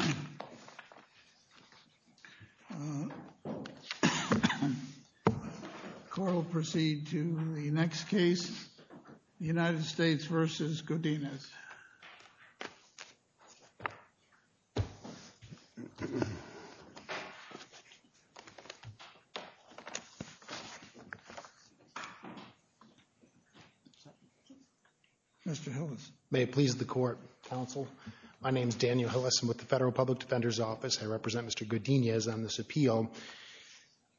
The court will proceed to the next case, United States v. Godinez. Mr. Hillis. May it please the Court, Counsel, my name is Daniel Hillis. I'm with the Federal Public Defender's Office. I represent Mr. Godinez on this appeal.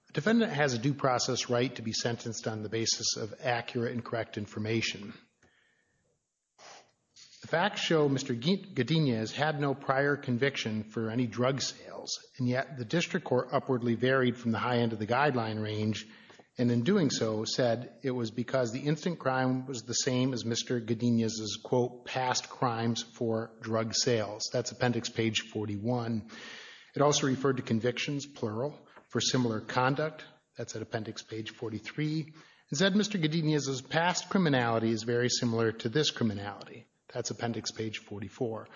A defendant has a due process right to be sentenced on the basis of accurate and correct information. The facts show Mr. Godinez had no prior conviction for any drug sales, and yet the district court upwardly varied from the high end of the guideline range, and in doing so said it was because the instant crime was the same as Mr. Godinez's, quote, past crimes for drug sales. That's Appendix Page 41. It also referred to convictions, plural, for similar conduct. That's at Appendix Page 43. It said Mr. Godinez's past criminality is very similar to this criminality. That's Appendix Page 44.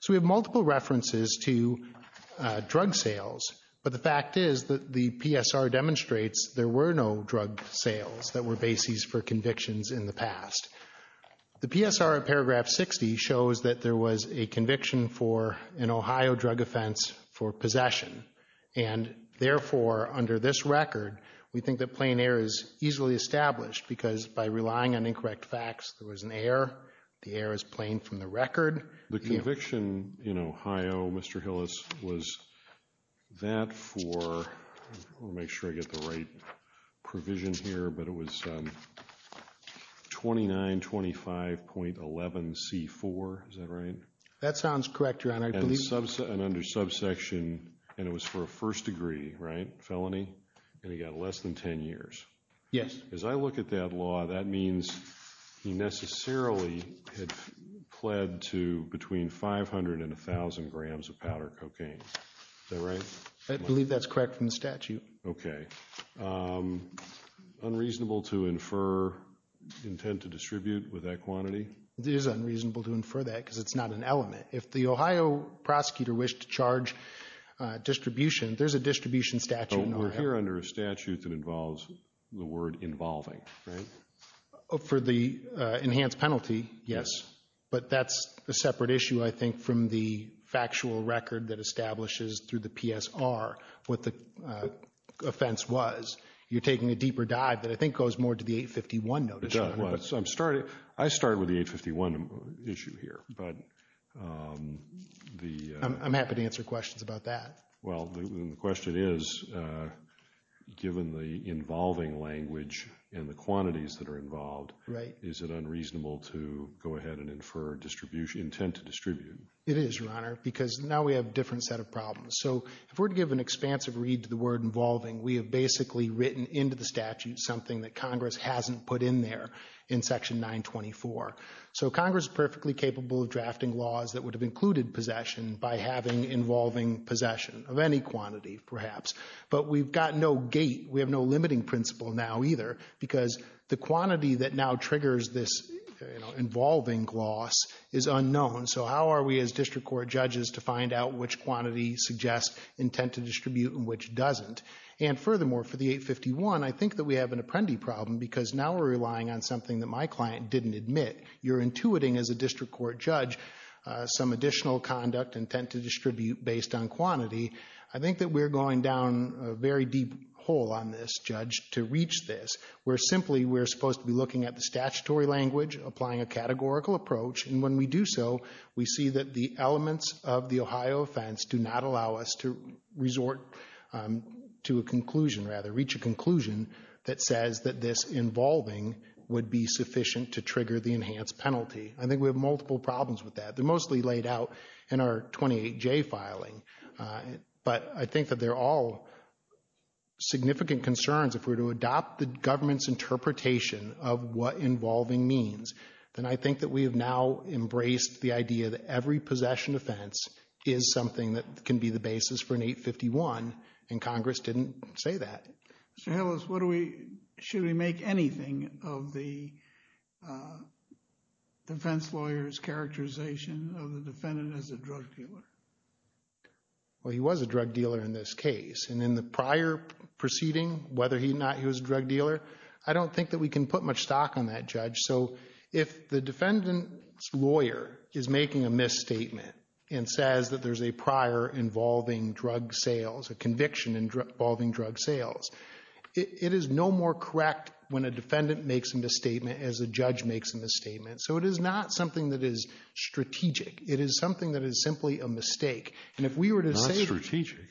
So we have multiple references to drug sales, but the fact is that the PSR demonstrates there were no drug sales that were bases for convictions in the past. The PSR at Paragraph 60 shows that there was a conviction for an Ohio drug offense for possession, and therefore, under this record, we think that plain error is easily established because by relying on incorrect facts, there was an error. The error is plain from the record. The conviction in Ohio, Mr. Hillis, was that for, I want to make sure I get the right provision here, but it was 2925.11c4, is that right? That sounds correct, Your Honor. And under subsection, and it was for a first degree, right, felony, and he got less than 10 years. Yes. As I look at that that means he necessarily had pled to between 500 and 1,000 grams of powder cocaine. Is that right? I believe that's correct from the statute. Okay. Unreasonable to infer intent to distribute with that quantity? It is unreasonable to infer that because it's not an element. If the Ohio prosecutor wished to charge distribution, there's a distribution statute in Ohio. We're here under a involving, right? For the enhanced penalty, yes, but that's a separate issue, I think, from the factual record that establishes through the PSR what the offense was. You're taking a deeper dive that I think goes more to the 851 notice. It does. I started with the 851 issue here, but the... I'm happy to answer questions about that. Well, the question is, given the involving language and the quantities that are involved, is it unreasonable to go ahead and infer intent to distribute? It is, Your Honor, because now we have a different set of problems. So if we're to give an expansive read to the word involving, we have basically written into the statute something that Congress hasn't put in there in section 924. So Congress is perfectly capable of drafting laws that would have included possession by having involving possession of any quantity, perhaps. But we've got no gate. We have no limiting principle now, either, because the quantity that now triggers this, you know, involving loss is unknown. So how are we as district court judges to find out which quantity suggests intent to distribute and which doesn't? And furthermore, for the 851, I think that we have an apprendi problem because now we're relying on something that my client didn't admit. You're intuiting as a district court judge some additional conduct intent to distribute based on quantity. I think that we're going down a very deep hole on this, Judge, to reach this, where simply we're supposed to be looking at the statutory language, applying a categorical approach, and when we do so, we see that the elements of the Ohio offense do not allow us to resort to a conclusion, rather, reach a conclusion that says that this involving would be sufficient to trigger the enhanced penalty. I think we have multiple problems with that. They're mostly laid out in our 28J filing, but I think that they're all significant concerns. If we're to adopt the government's interpretation of what involving means, then I think that we have now embraced the idea that every possession offense is something that can be the basis for an 851, and Congress didn't say that. Mr. Hillis, what do we, should we make anything of the defense lawyer's characterization of the defendant as a drug dealer? Well, he was a drug dealer in this case, and in the prior proceeding, whether or not he was a drug dealer, I don't think that we can put much stock on that, Judge. So if the defendant's lawyer is making a misstatement and says that there's a prior involving drug sales, a conviction involving drug sales, it is no more correct when a defendant makes a misstatement as a judge makes a misstatement. So it is not something that is strategic. It is something that is simply a mistake. And if we were to say... Not strategic.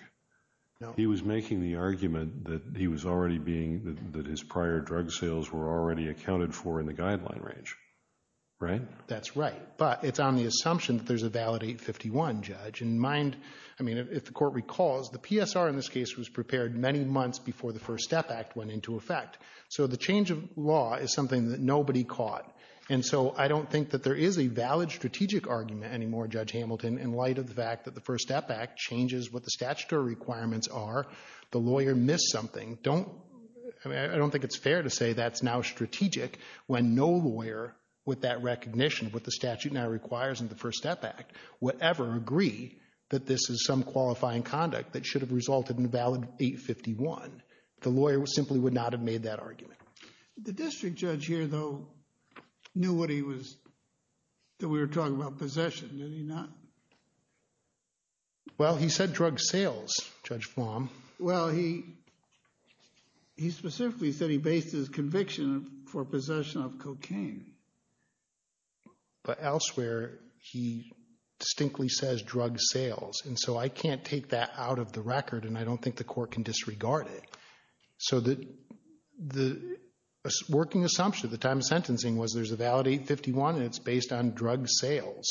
No. He was making the argument that he was already being, that his prior drug sales were already accounted for in the guideline range, right? That's right, but it's on the assumption that there's a valid 851, Judge. And mind, I mean, if the court recalls, the PSR in this case was prepared many months before the First Step Act went into effect. So the change of law is something that nobody caught. And so I don't think that there is a valid strategic argument anymore, Judge Hamilton, in light of the fact that the First Step Act changes what the statutory requirements are. The lawyer missed something. Don't... I mean, I don't think it's fair to say that's now strategic when no lawyer, with that recognition of what the statute now requires in the First Step Act, would ever agree that this is some qualifying conduct that should have resulted in a valid 851. The lawyer simply would not have made that argument. The district judge here, though, knew what he was... that we were talking about possession. Did he not? Well, he said drug sales, Judge Flom. Well, he he specifically said he based his conviction for possession of cocaine. But elsewhere, he distinctly says drug sales. And so I can't take that out of the record, and I don't think the court can disregard it. So the working assumption at the time of sentencing was there's a valid 851, and it's based on drug sales,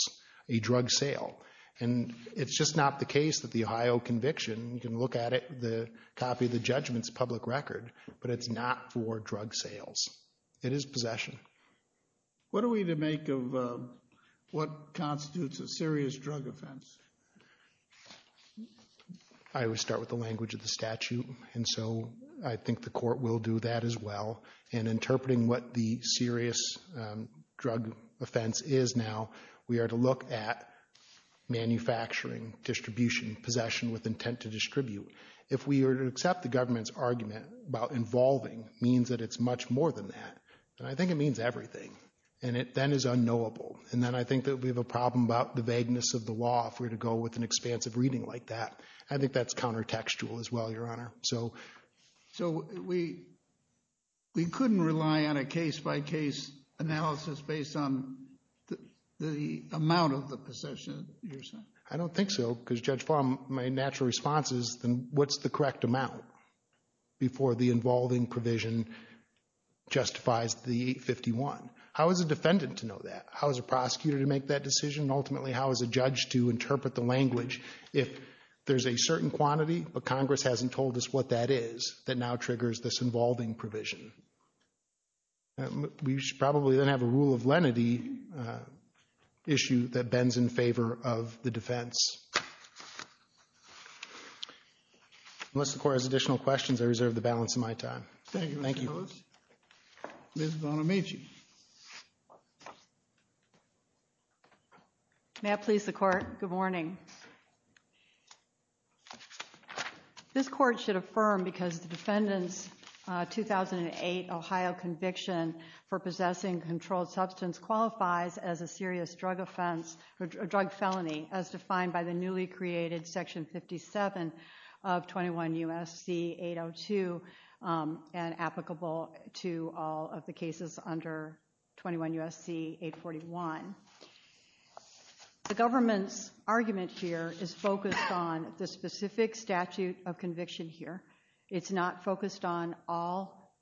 a drug sale. And it's just not the case that the Ohio conviction, you can look at it, the copy of the judgment's public record, but it's not for drug sales. It is possession. What are we to make of what constitutes a serious drug offense? I always start with the language of the statute, and so I think the court will do that as well. In interpreting what the serious drug offense is now, we are to look at manufacturing, distribution, possession with intent to distribute. If we are to accept the government's argument about involving means that it's much more than that, and I think it means everything, and it then is unknowable. And then I think that we have a problem about the vagueness of the law if we're to go with an expansive reading like that. I think that's counter-textual as well, Your Honor. So we couldn't rely on a case-by-case analysis based on the amount of the possession? I don't think so, because, Judge Flom, my natural response is, then what's the correct amount before the involving provision justifies the 851? How is a defendant to know that? How is a prosecutor to make that decision? Ultimately, how is a judge to interpret the language if there's a certain quantity, but Congress hasn't told us what that is, that now triggers this involving provision? We should probably then have a rule of lenity issue that bends in favor of the defense. Unless the Court has additional questions, I reserve the balance of my time. Thank you, Mr. Ellis. Ms. Bonamici. May I please the Court? Good morning. This Court should affirm, because the defendant's 2008 Ohio conviction for possessing controlled substance qualifies as a serious drug offense or drug felony as defined by the newly created Section 57 of 21 U.S.C. 802 and applicable to all of the cases under 21 U.S.C. 841. The government's argument here is focused on the specific statute of conviction here. It's not focused on all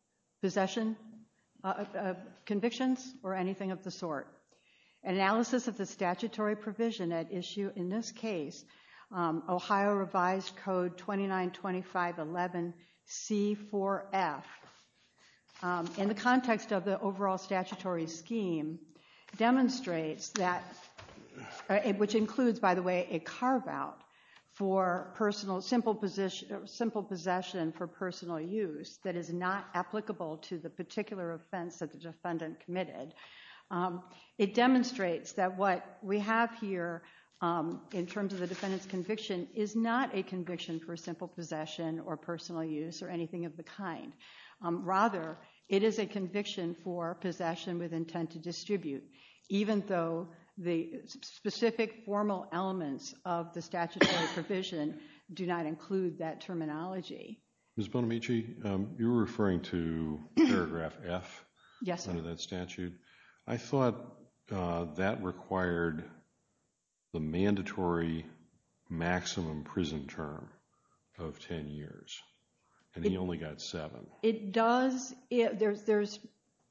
possession convictions or anything of the sort. Analysis of the statutory provision at issue in this case, Ohio Revised Code 2925.11c.4.f, in the context of the overall statutory scheme, demonstrates that, which includes, by the way, a carve-out for simple possession for personal use that is not applicable to the particular offense that the defendant committed. It demonstrates that what we have here in terms of the defendant's conviction is not a conviction for simple possession or personal use or anything of the kind. Rather, it is a conviction for possession with intent to distribute, even though the specific formal elements of the statutory provision do not include that terminology. Ms. Bonamici, you're referring to paragraph f under that statute. I thought that required the mandatory maximum prison term of 10 years, and he only got seven. It does. There's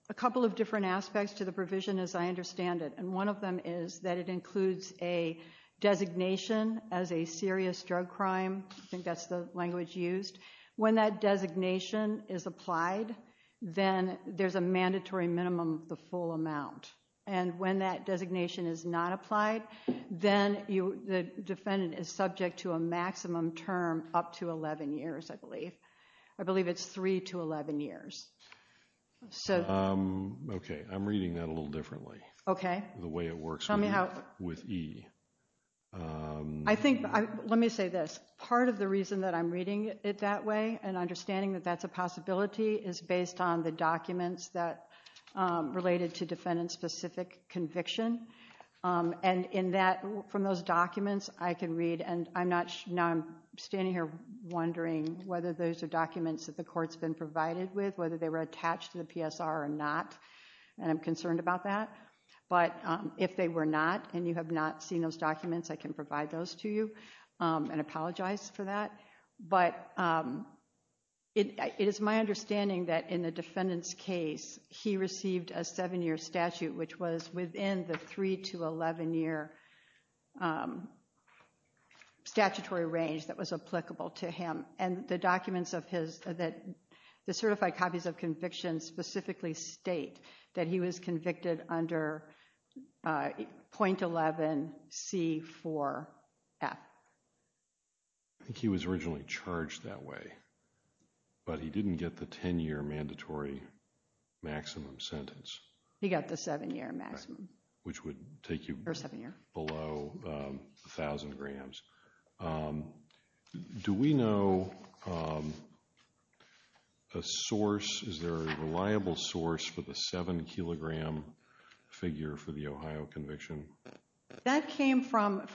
a couple of different aspects to the provision, as I understand it, and one of them is that it includes a designation as a serious drug crime. I think that's the language used. When that designation is applied, then there's a mandatory minimum of the full amount, and when that designation is not applied, then the defendant is subject to a maximum term up to 11 years, I believe. I believe it's three to 11 years. Okay, I'm reading that a little differently, the way it works with E. Let me say this. Part of the reason that I'm reading it that way and understanding that that's a possibility is based on the documents that related to defendant-specific conviction, and from those documents, I can read, and now I'm standing here wondering whether those are documents that the court's been provided with, whether they were attached to the PSR or not, and I'm concerned about that, but if they were not and you have not seen those documents, I can provide those to you and apologize for that, but it is my understanding that in the three to 11-year statutory range that was applicable to him, and the documents of his, that the certified copies of conviction specifically state that he was convicted under .11C4F. I think he was originally charged that way, but he didn't get the 10-year mandatory maximum sentence. He got the seven-year maximum. Which would take you below a thousand grams. Do we know a source, is there a reliable source for the seven-kilogram figure for the Ohio conviction? That came from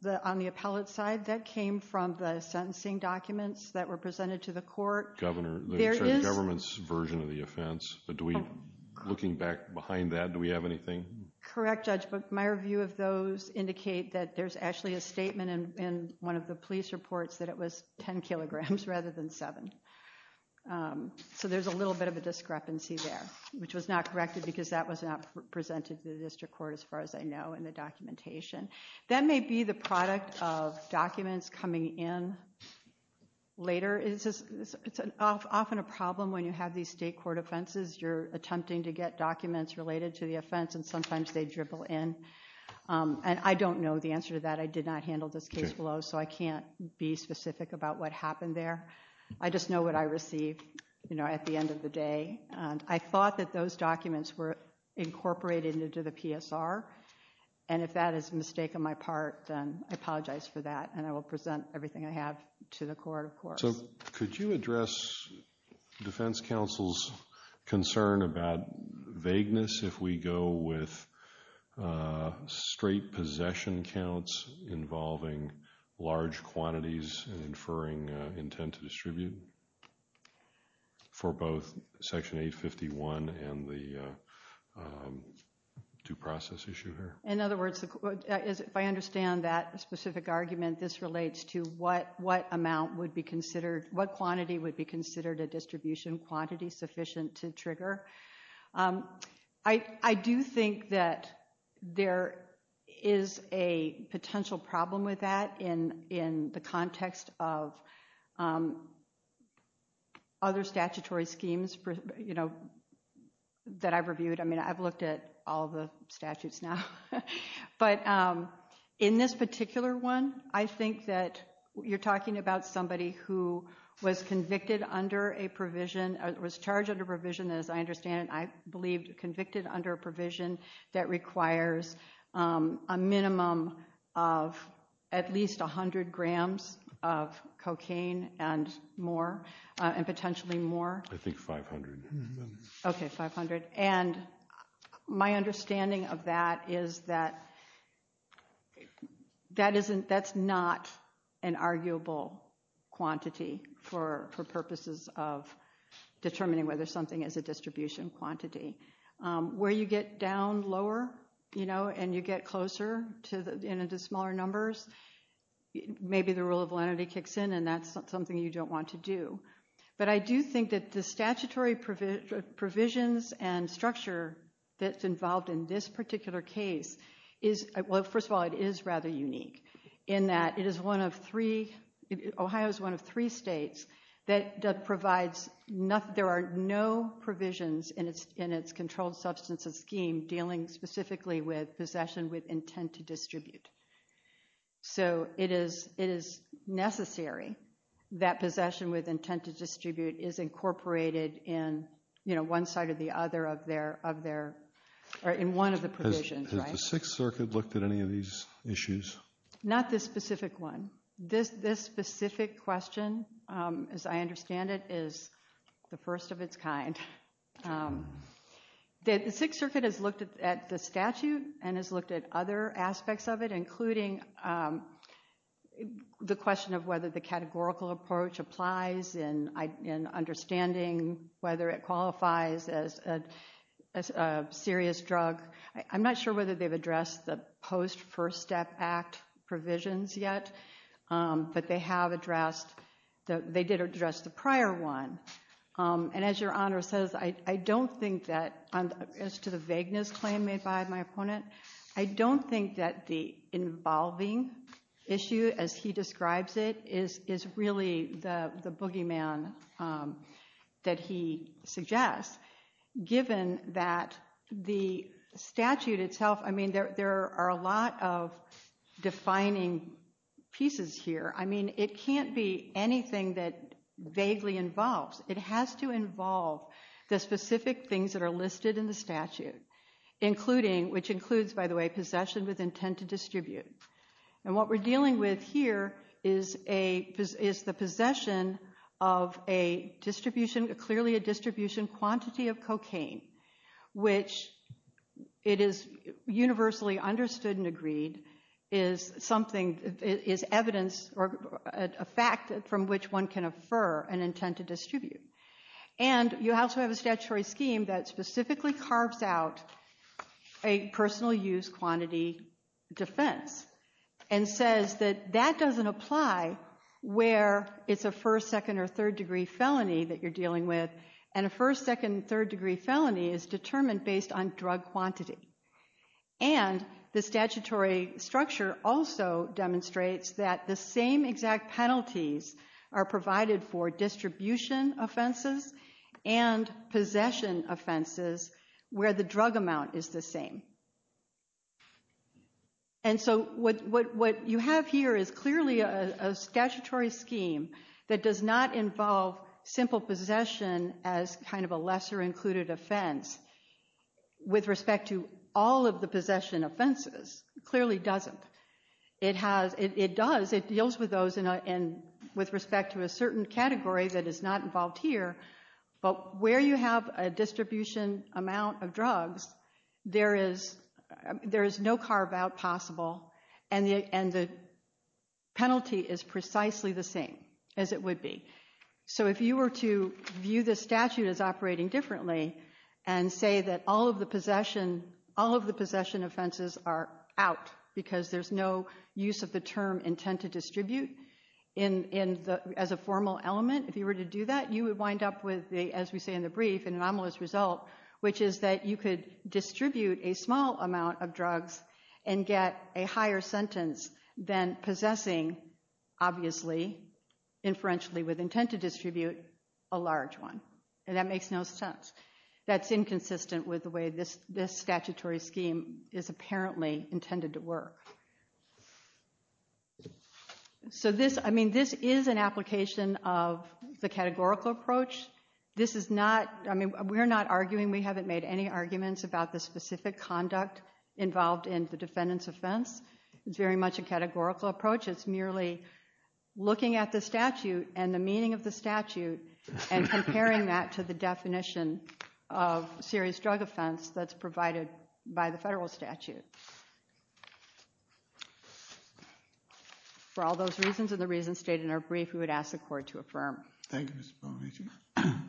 the, on the appellate side, that came from the sentencing documents that were presented to the court. The government's version of the offense, but do we, looking back behind that, do we have anything? Correct, Judge, but my review of those indicate that there's actually a statement in one of the police reports that it was 10 kilograms rather than seven, so there's a little bit of a discrepancy there, which was not corrected because that was not presented to the district court as far as I know in the documentation. That may be the product of documents coming in later. It's often a problem when you have these state court offenses, you're attempting to get documents related to the offense, and sometimes they dribble in, and I don't know the answer to that. I did not handle this case below, so I can't be specific about what happened there. I just know what I received, you know, at the end of the day. I thought that those documents were incorporated into the PSR, and if that is a mistake on my part, then I apologize for that, and I will present everything I have to the court, of course. So could you address defense counsel's concern about vagueness if we go with straight possession counts involving large quantities and inferring intent to distribute for both Section 851 and the due process issue here? In other words, if I understand that specific argument, this relates to what quantity would be considered a distribution quantity sufficient to trigger. I do think that there is a potential problem with that in the context of other statutory schemes, you know, that I've reviewed. I mean, I've looked at all the statutes now, but in this particular one, I think that you're talking about somebody who was convicted under a provision, was charged under provision, as I understand it, I believe convicted under a provision that requires a minimum of at least 100 grams of cocaine and more, and potentially more. I think 500. Okay, 500. And my understanding of that is that that's not an arguable quantity for purposes of determining whether something is a distribution quantity. Where you get down lower, you know, and you get closer to the smaller numbers, maybe the rule of validity kicks in and that's something you don't want to do. But I do think that the statutory provisions and structure that's involved in this particular case is, well, first of all, it is rather unique in that it is one of three, Ohio is one of three states that provides, there are no provisions in its controlled substances scheme dealing specifically with possession with intent to distribute. So it is necessary that possession with intent to distribute is incorporated in, you know, one side or the other of their, in one of the provisions, right? Has the Sixth Circuit looked at any of these issues? Not this specific one. This specific question, as I understand it, is the first of its kind. The Sixth Circuit has looked at the statute and has looked at other aspects of it, including the question of whether the categorical approach applies in understanding whether it qualifies as a serious drug. I'm not sure whether they've addressed the post-First Step Act provisions yet, but they have addressed, they did address the prior one. And as Your Honor says, I don't think that, as to the vagueness claim made by my opponent, I don't think that the involving issue as he describes it is really the boogeyman that he suggests, given that the statute itself, I mean, there are a lot of defining pieces here. I mean, it can't be anything that vaguely involves. It has to involve the specific things that are listed in the statute, including, which includes, by the way, possession with intent to distribute. And what we're dealing with here is a, is the possession of a distribution, clearly a distribution quantity of cocaine, which, it is universally understood and agreed, is something, is evidence or a fact from which one can infer an intent to distribute. And you also have a statutory scheme that specifically carves out a personal use quantity defense and says that that doesn't apply where it's a first, second, or third degree felony that you're dealing with. And a first, second, third degree felony is determined based on drug quantity. And the statutory structure also demonstrates that the same exact penalties are provided for distribution offenses and possession offenses where the drug amount is the same. And so what you have here is clearly a statutory scheme that does not involve simple possession as kind of a lesser included offense with respect to all of the possession offenses, clearly doesn't. It has, it does, it deals with those in a, and with respect to a certain category that is not involved here. But where you have a distribution amount of drugs, there is, there is no carve out possible and the, and the penalty is precisely the same as it would be. So if you were to view the statute as operating differently and say that all of the possession, all of the possession offenses are out because there's no use of the term intent to distribute in, in the, as a formal element, if you were to do that, you would wind up with the, as we say in the brief, an anomalous result, which is that you could distribute a small amount of drugs and get a higher sentence than possessing, obviously, inferentially with intent to distribute, a large one. And that makes no sense. That's inconsistent with the way this, this statutory scheme is apparently intended to work. So this, I mean, this is an application of the categorical approach. This is not, I mean, we're not arguing, we haven't made any arguments about the specific conduct involved in the defendant's offense. It's very much a categorical approach. It's merely looking at the statute and the meaning of the statute and comparing that to the definition of serious drug offense that's provided by the federal statute. For all those reasons and the reasons stated in our brief, we would ask the court to affirm. Thank you, Ms. Bonacic.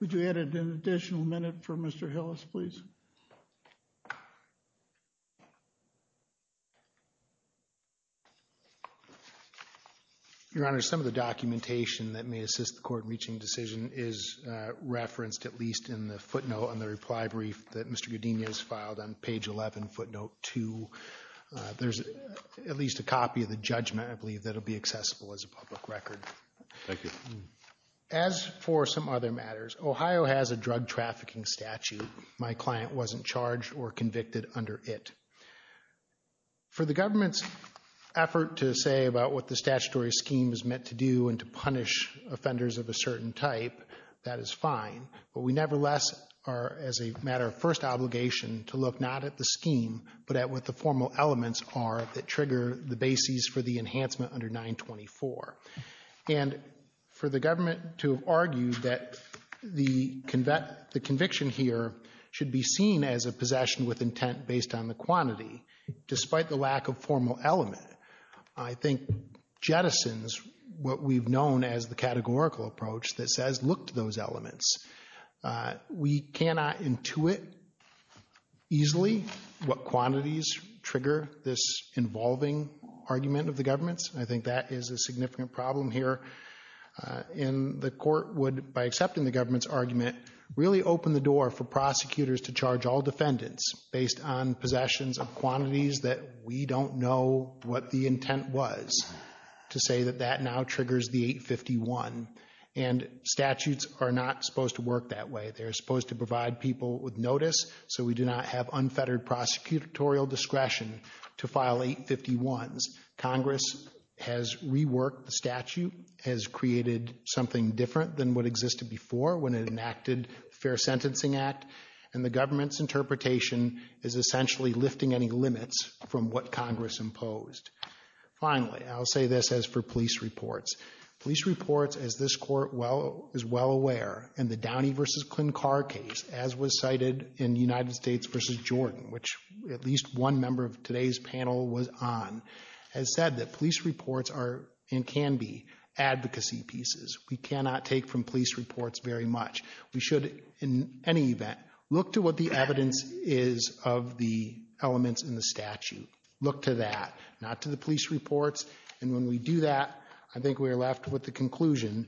Would you add an additional minute for Mr. Hillis, please? Your Honor, some of the documentation that may assist the court in reaching a decision is referenced, at least in the footnote on the reply brief that Mr. Godinez filed on page 11, footnote 2. There's at least a copy of the judgment, I believe, that'll be accessible as a public record. Thank you. As for some other matters, Ohio has a drug trafficking statute. My client wasn't charged or convicted under it. For the government's effort to say about what the statutory scheme is meant to do and to punish offenders of a certain type, that is fine, but we nevertheless are, as a matter of first obligation, to look not at the scheme, but at what the formal elements are that trigger the bases for the enhancement under 924. And for the government to argue that the conviction here should be seen as a possession with intent based on the quantity, despite the lack of formal element, I think jettisons what we've known as the categorical approach that says look to those elements. We cannot intuit easily what quantities trigger this involving argument of the government's. I think that is a significant problem here. And the court would, by accepting the government's argument, really open the door for prosecutors to charge all defendants based on possessions of quantities that we don't know what the intent was to say that that now triggers the 851. And statutes are not supposed to work that way. They're supposed to provide people with notice so we do not have unfettered prosecutorial discretion to file 851s. Congress has reworked the statute, has created something different than what existed before when it enacted the Fair Sentencing Act, and the government's interpretation is essentially lifting any limits from what this court is well aware. And the Downey v. Klinkar case, as was cited in United States v. Jordan, which at least one member of today's panel was on, has said that police reports are and can be advocacy pieces. We cannot take from police reports very much. We should, in any event, look to what the evidence is of the elements in the statute. Look to that, not to the police reports. And when we do that, I think we are left with the conclusion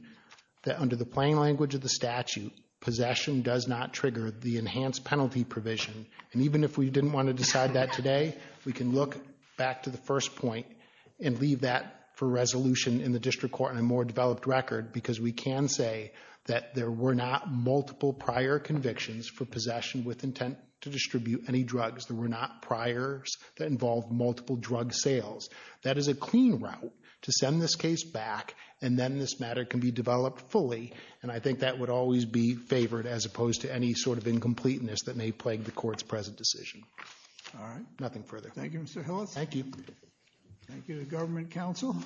that under the plain language of the statute, possession does not trigger the enhanced penalty provision. And even if we didn't want to decide that today, we can look back to the first point and leave that for resolution in the district court and a more developed record because we can say that there were not multiple prior convictions for possession with intent to distribute any drugs. There were not priors that involved multiple drug sales. That is a clean route to send this case back, and then this matter can be developed fully. And I think that would always be favored as opposed to any sort of incompleteness that may plague the court's present decision. All right. Nothing further. Thank you, Mr. Hillis. Thank you. Thank you to government counsel.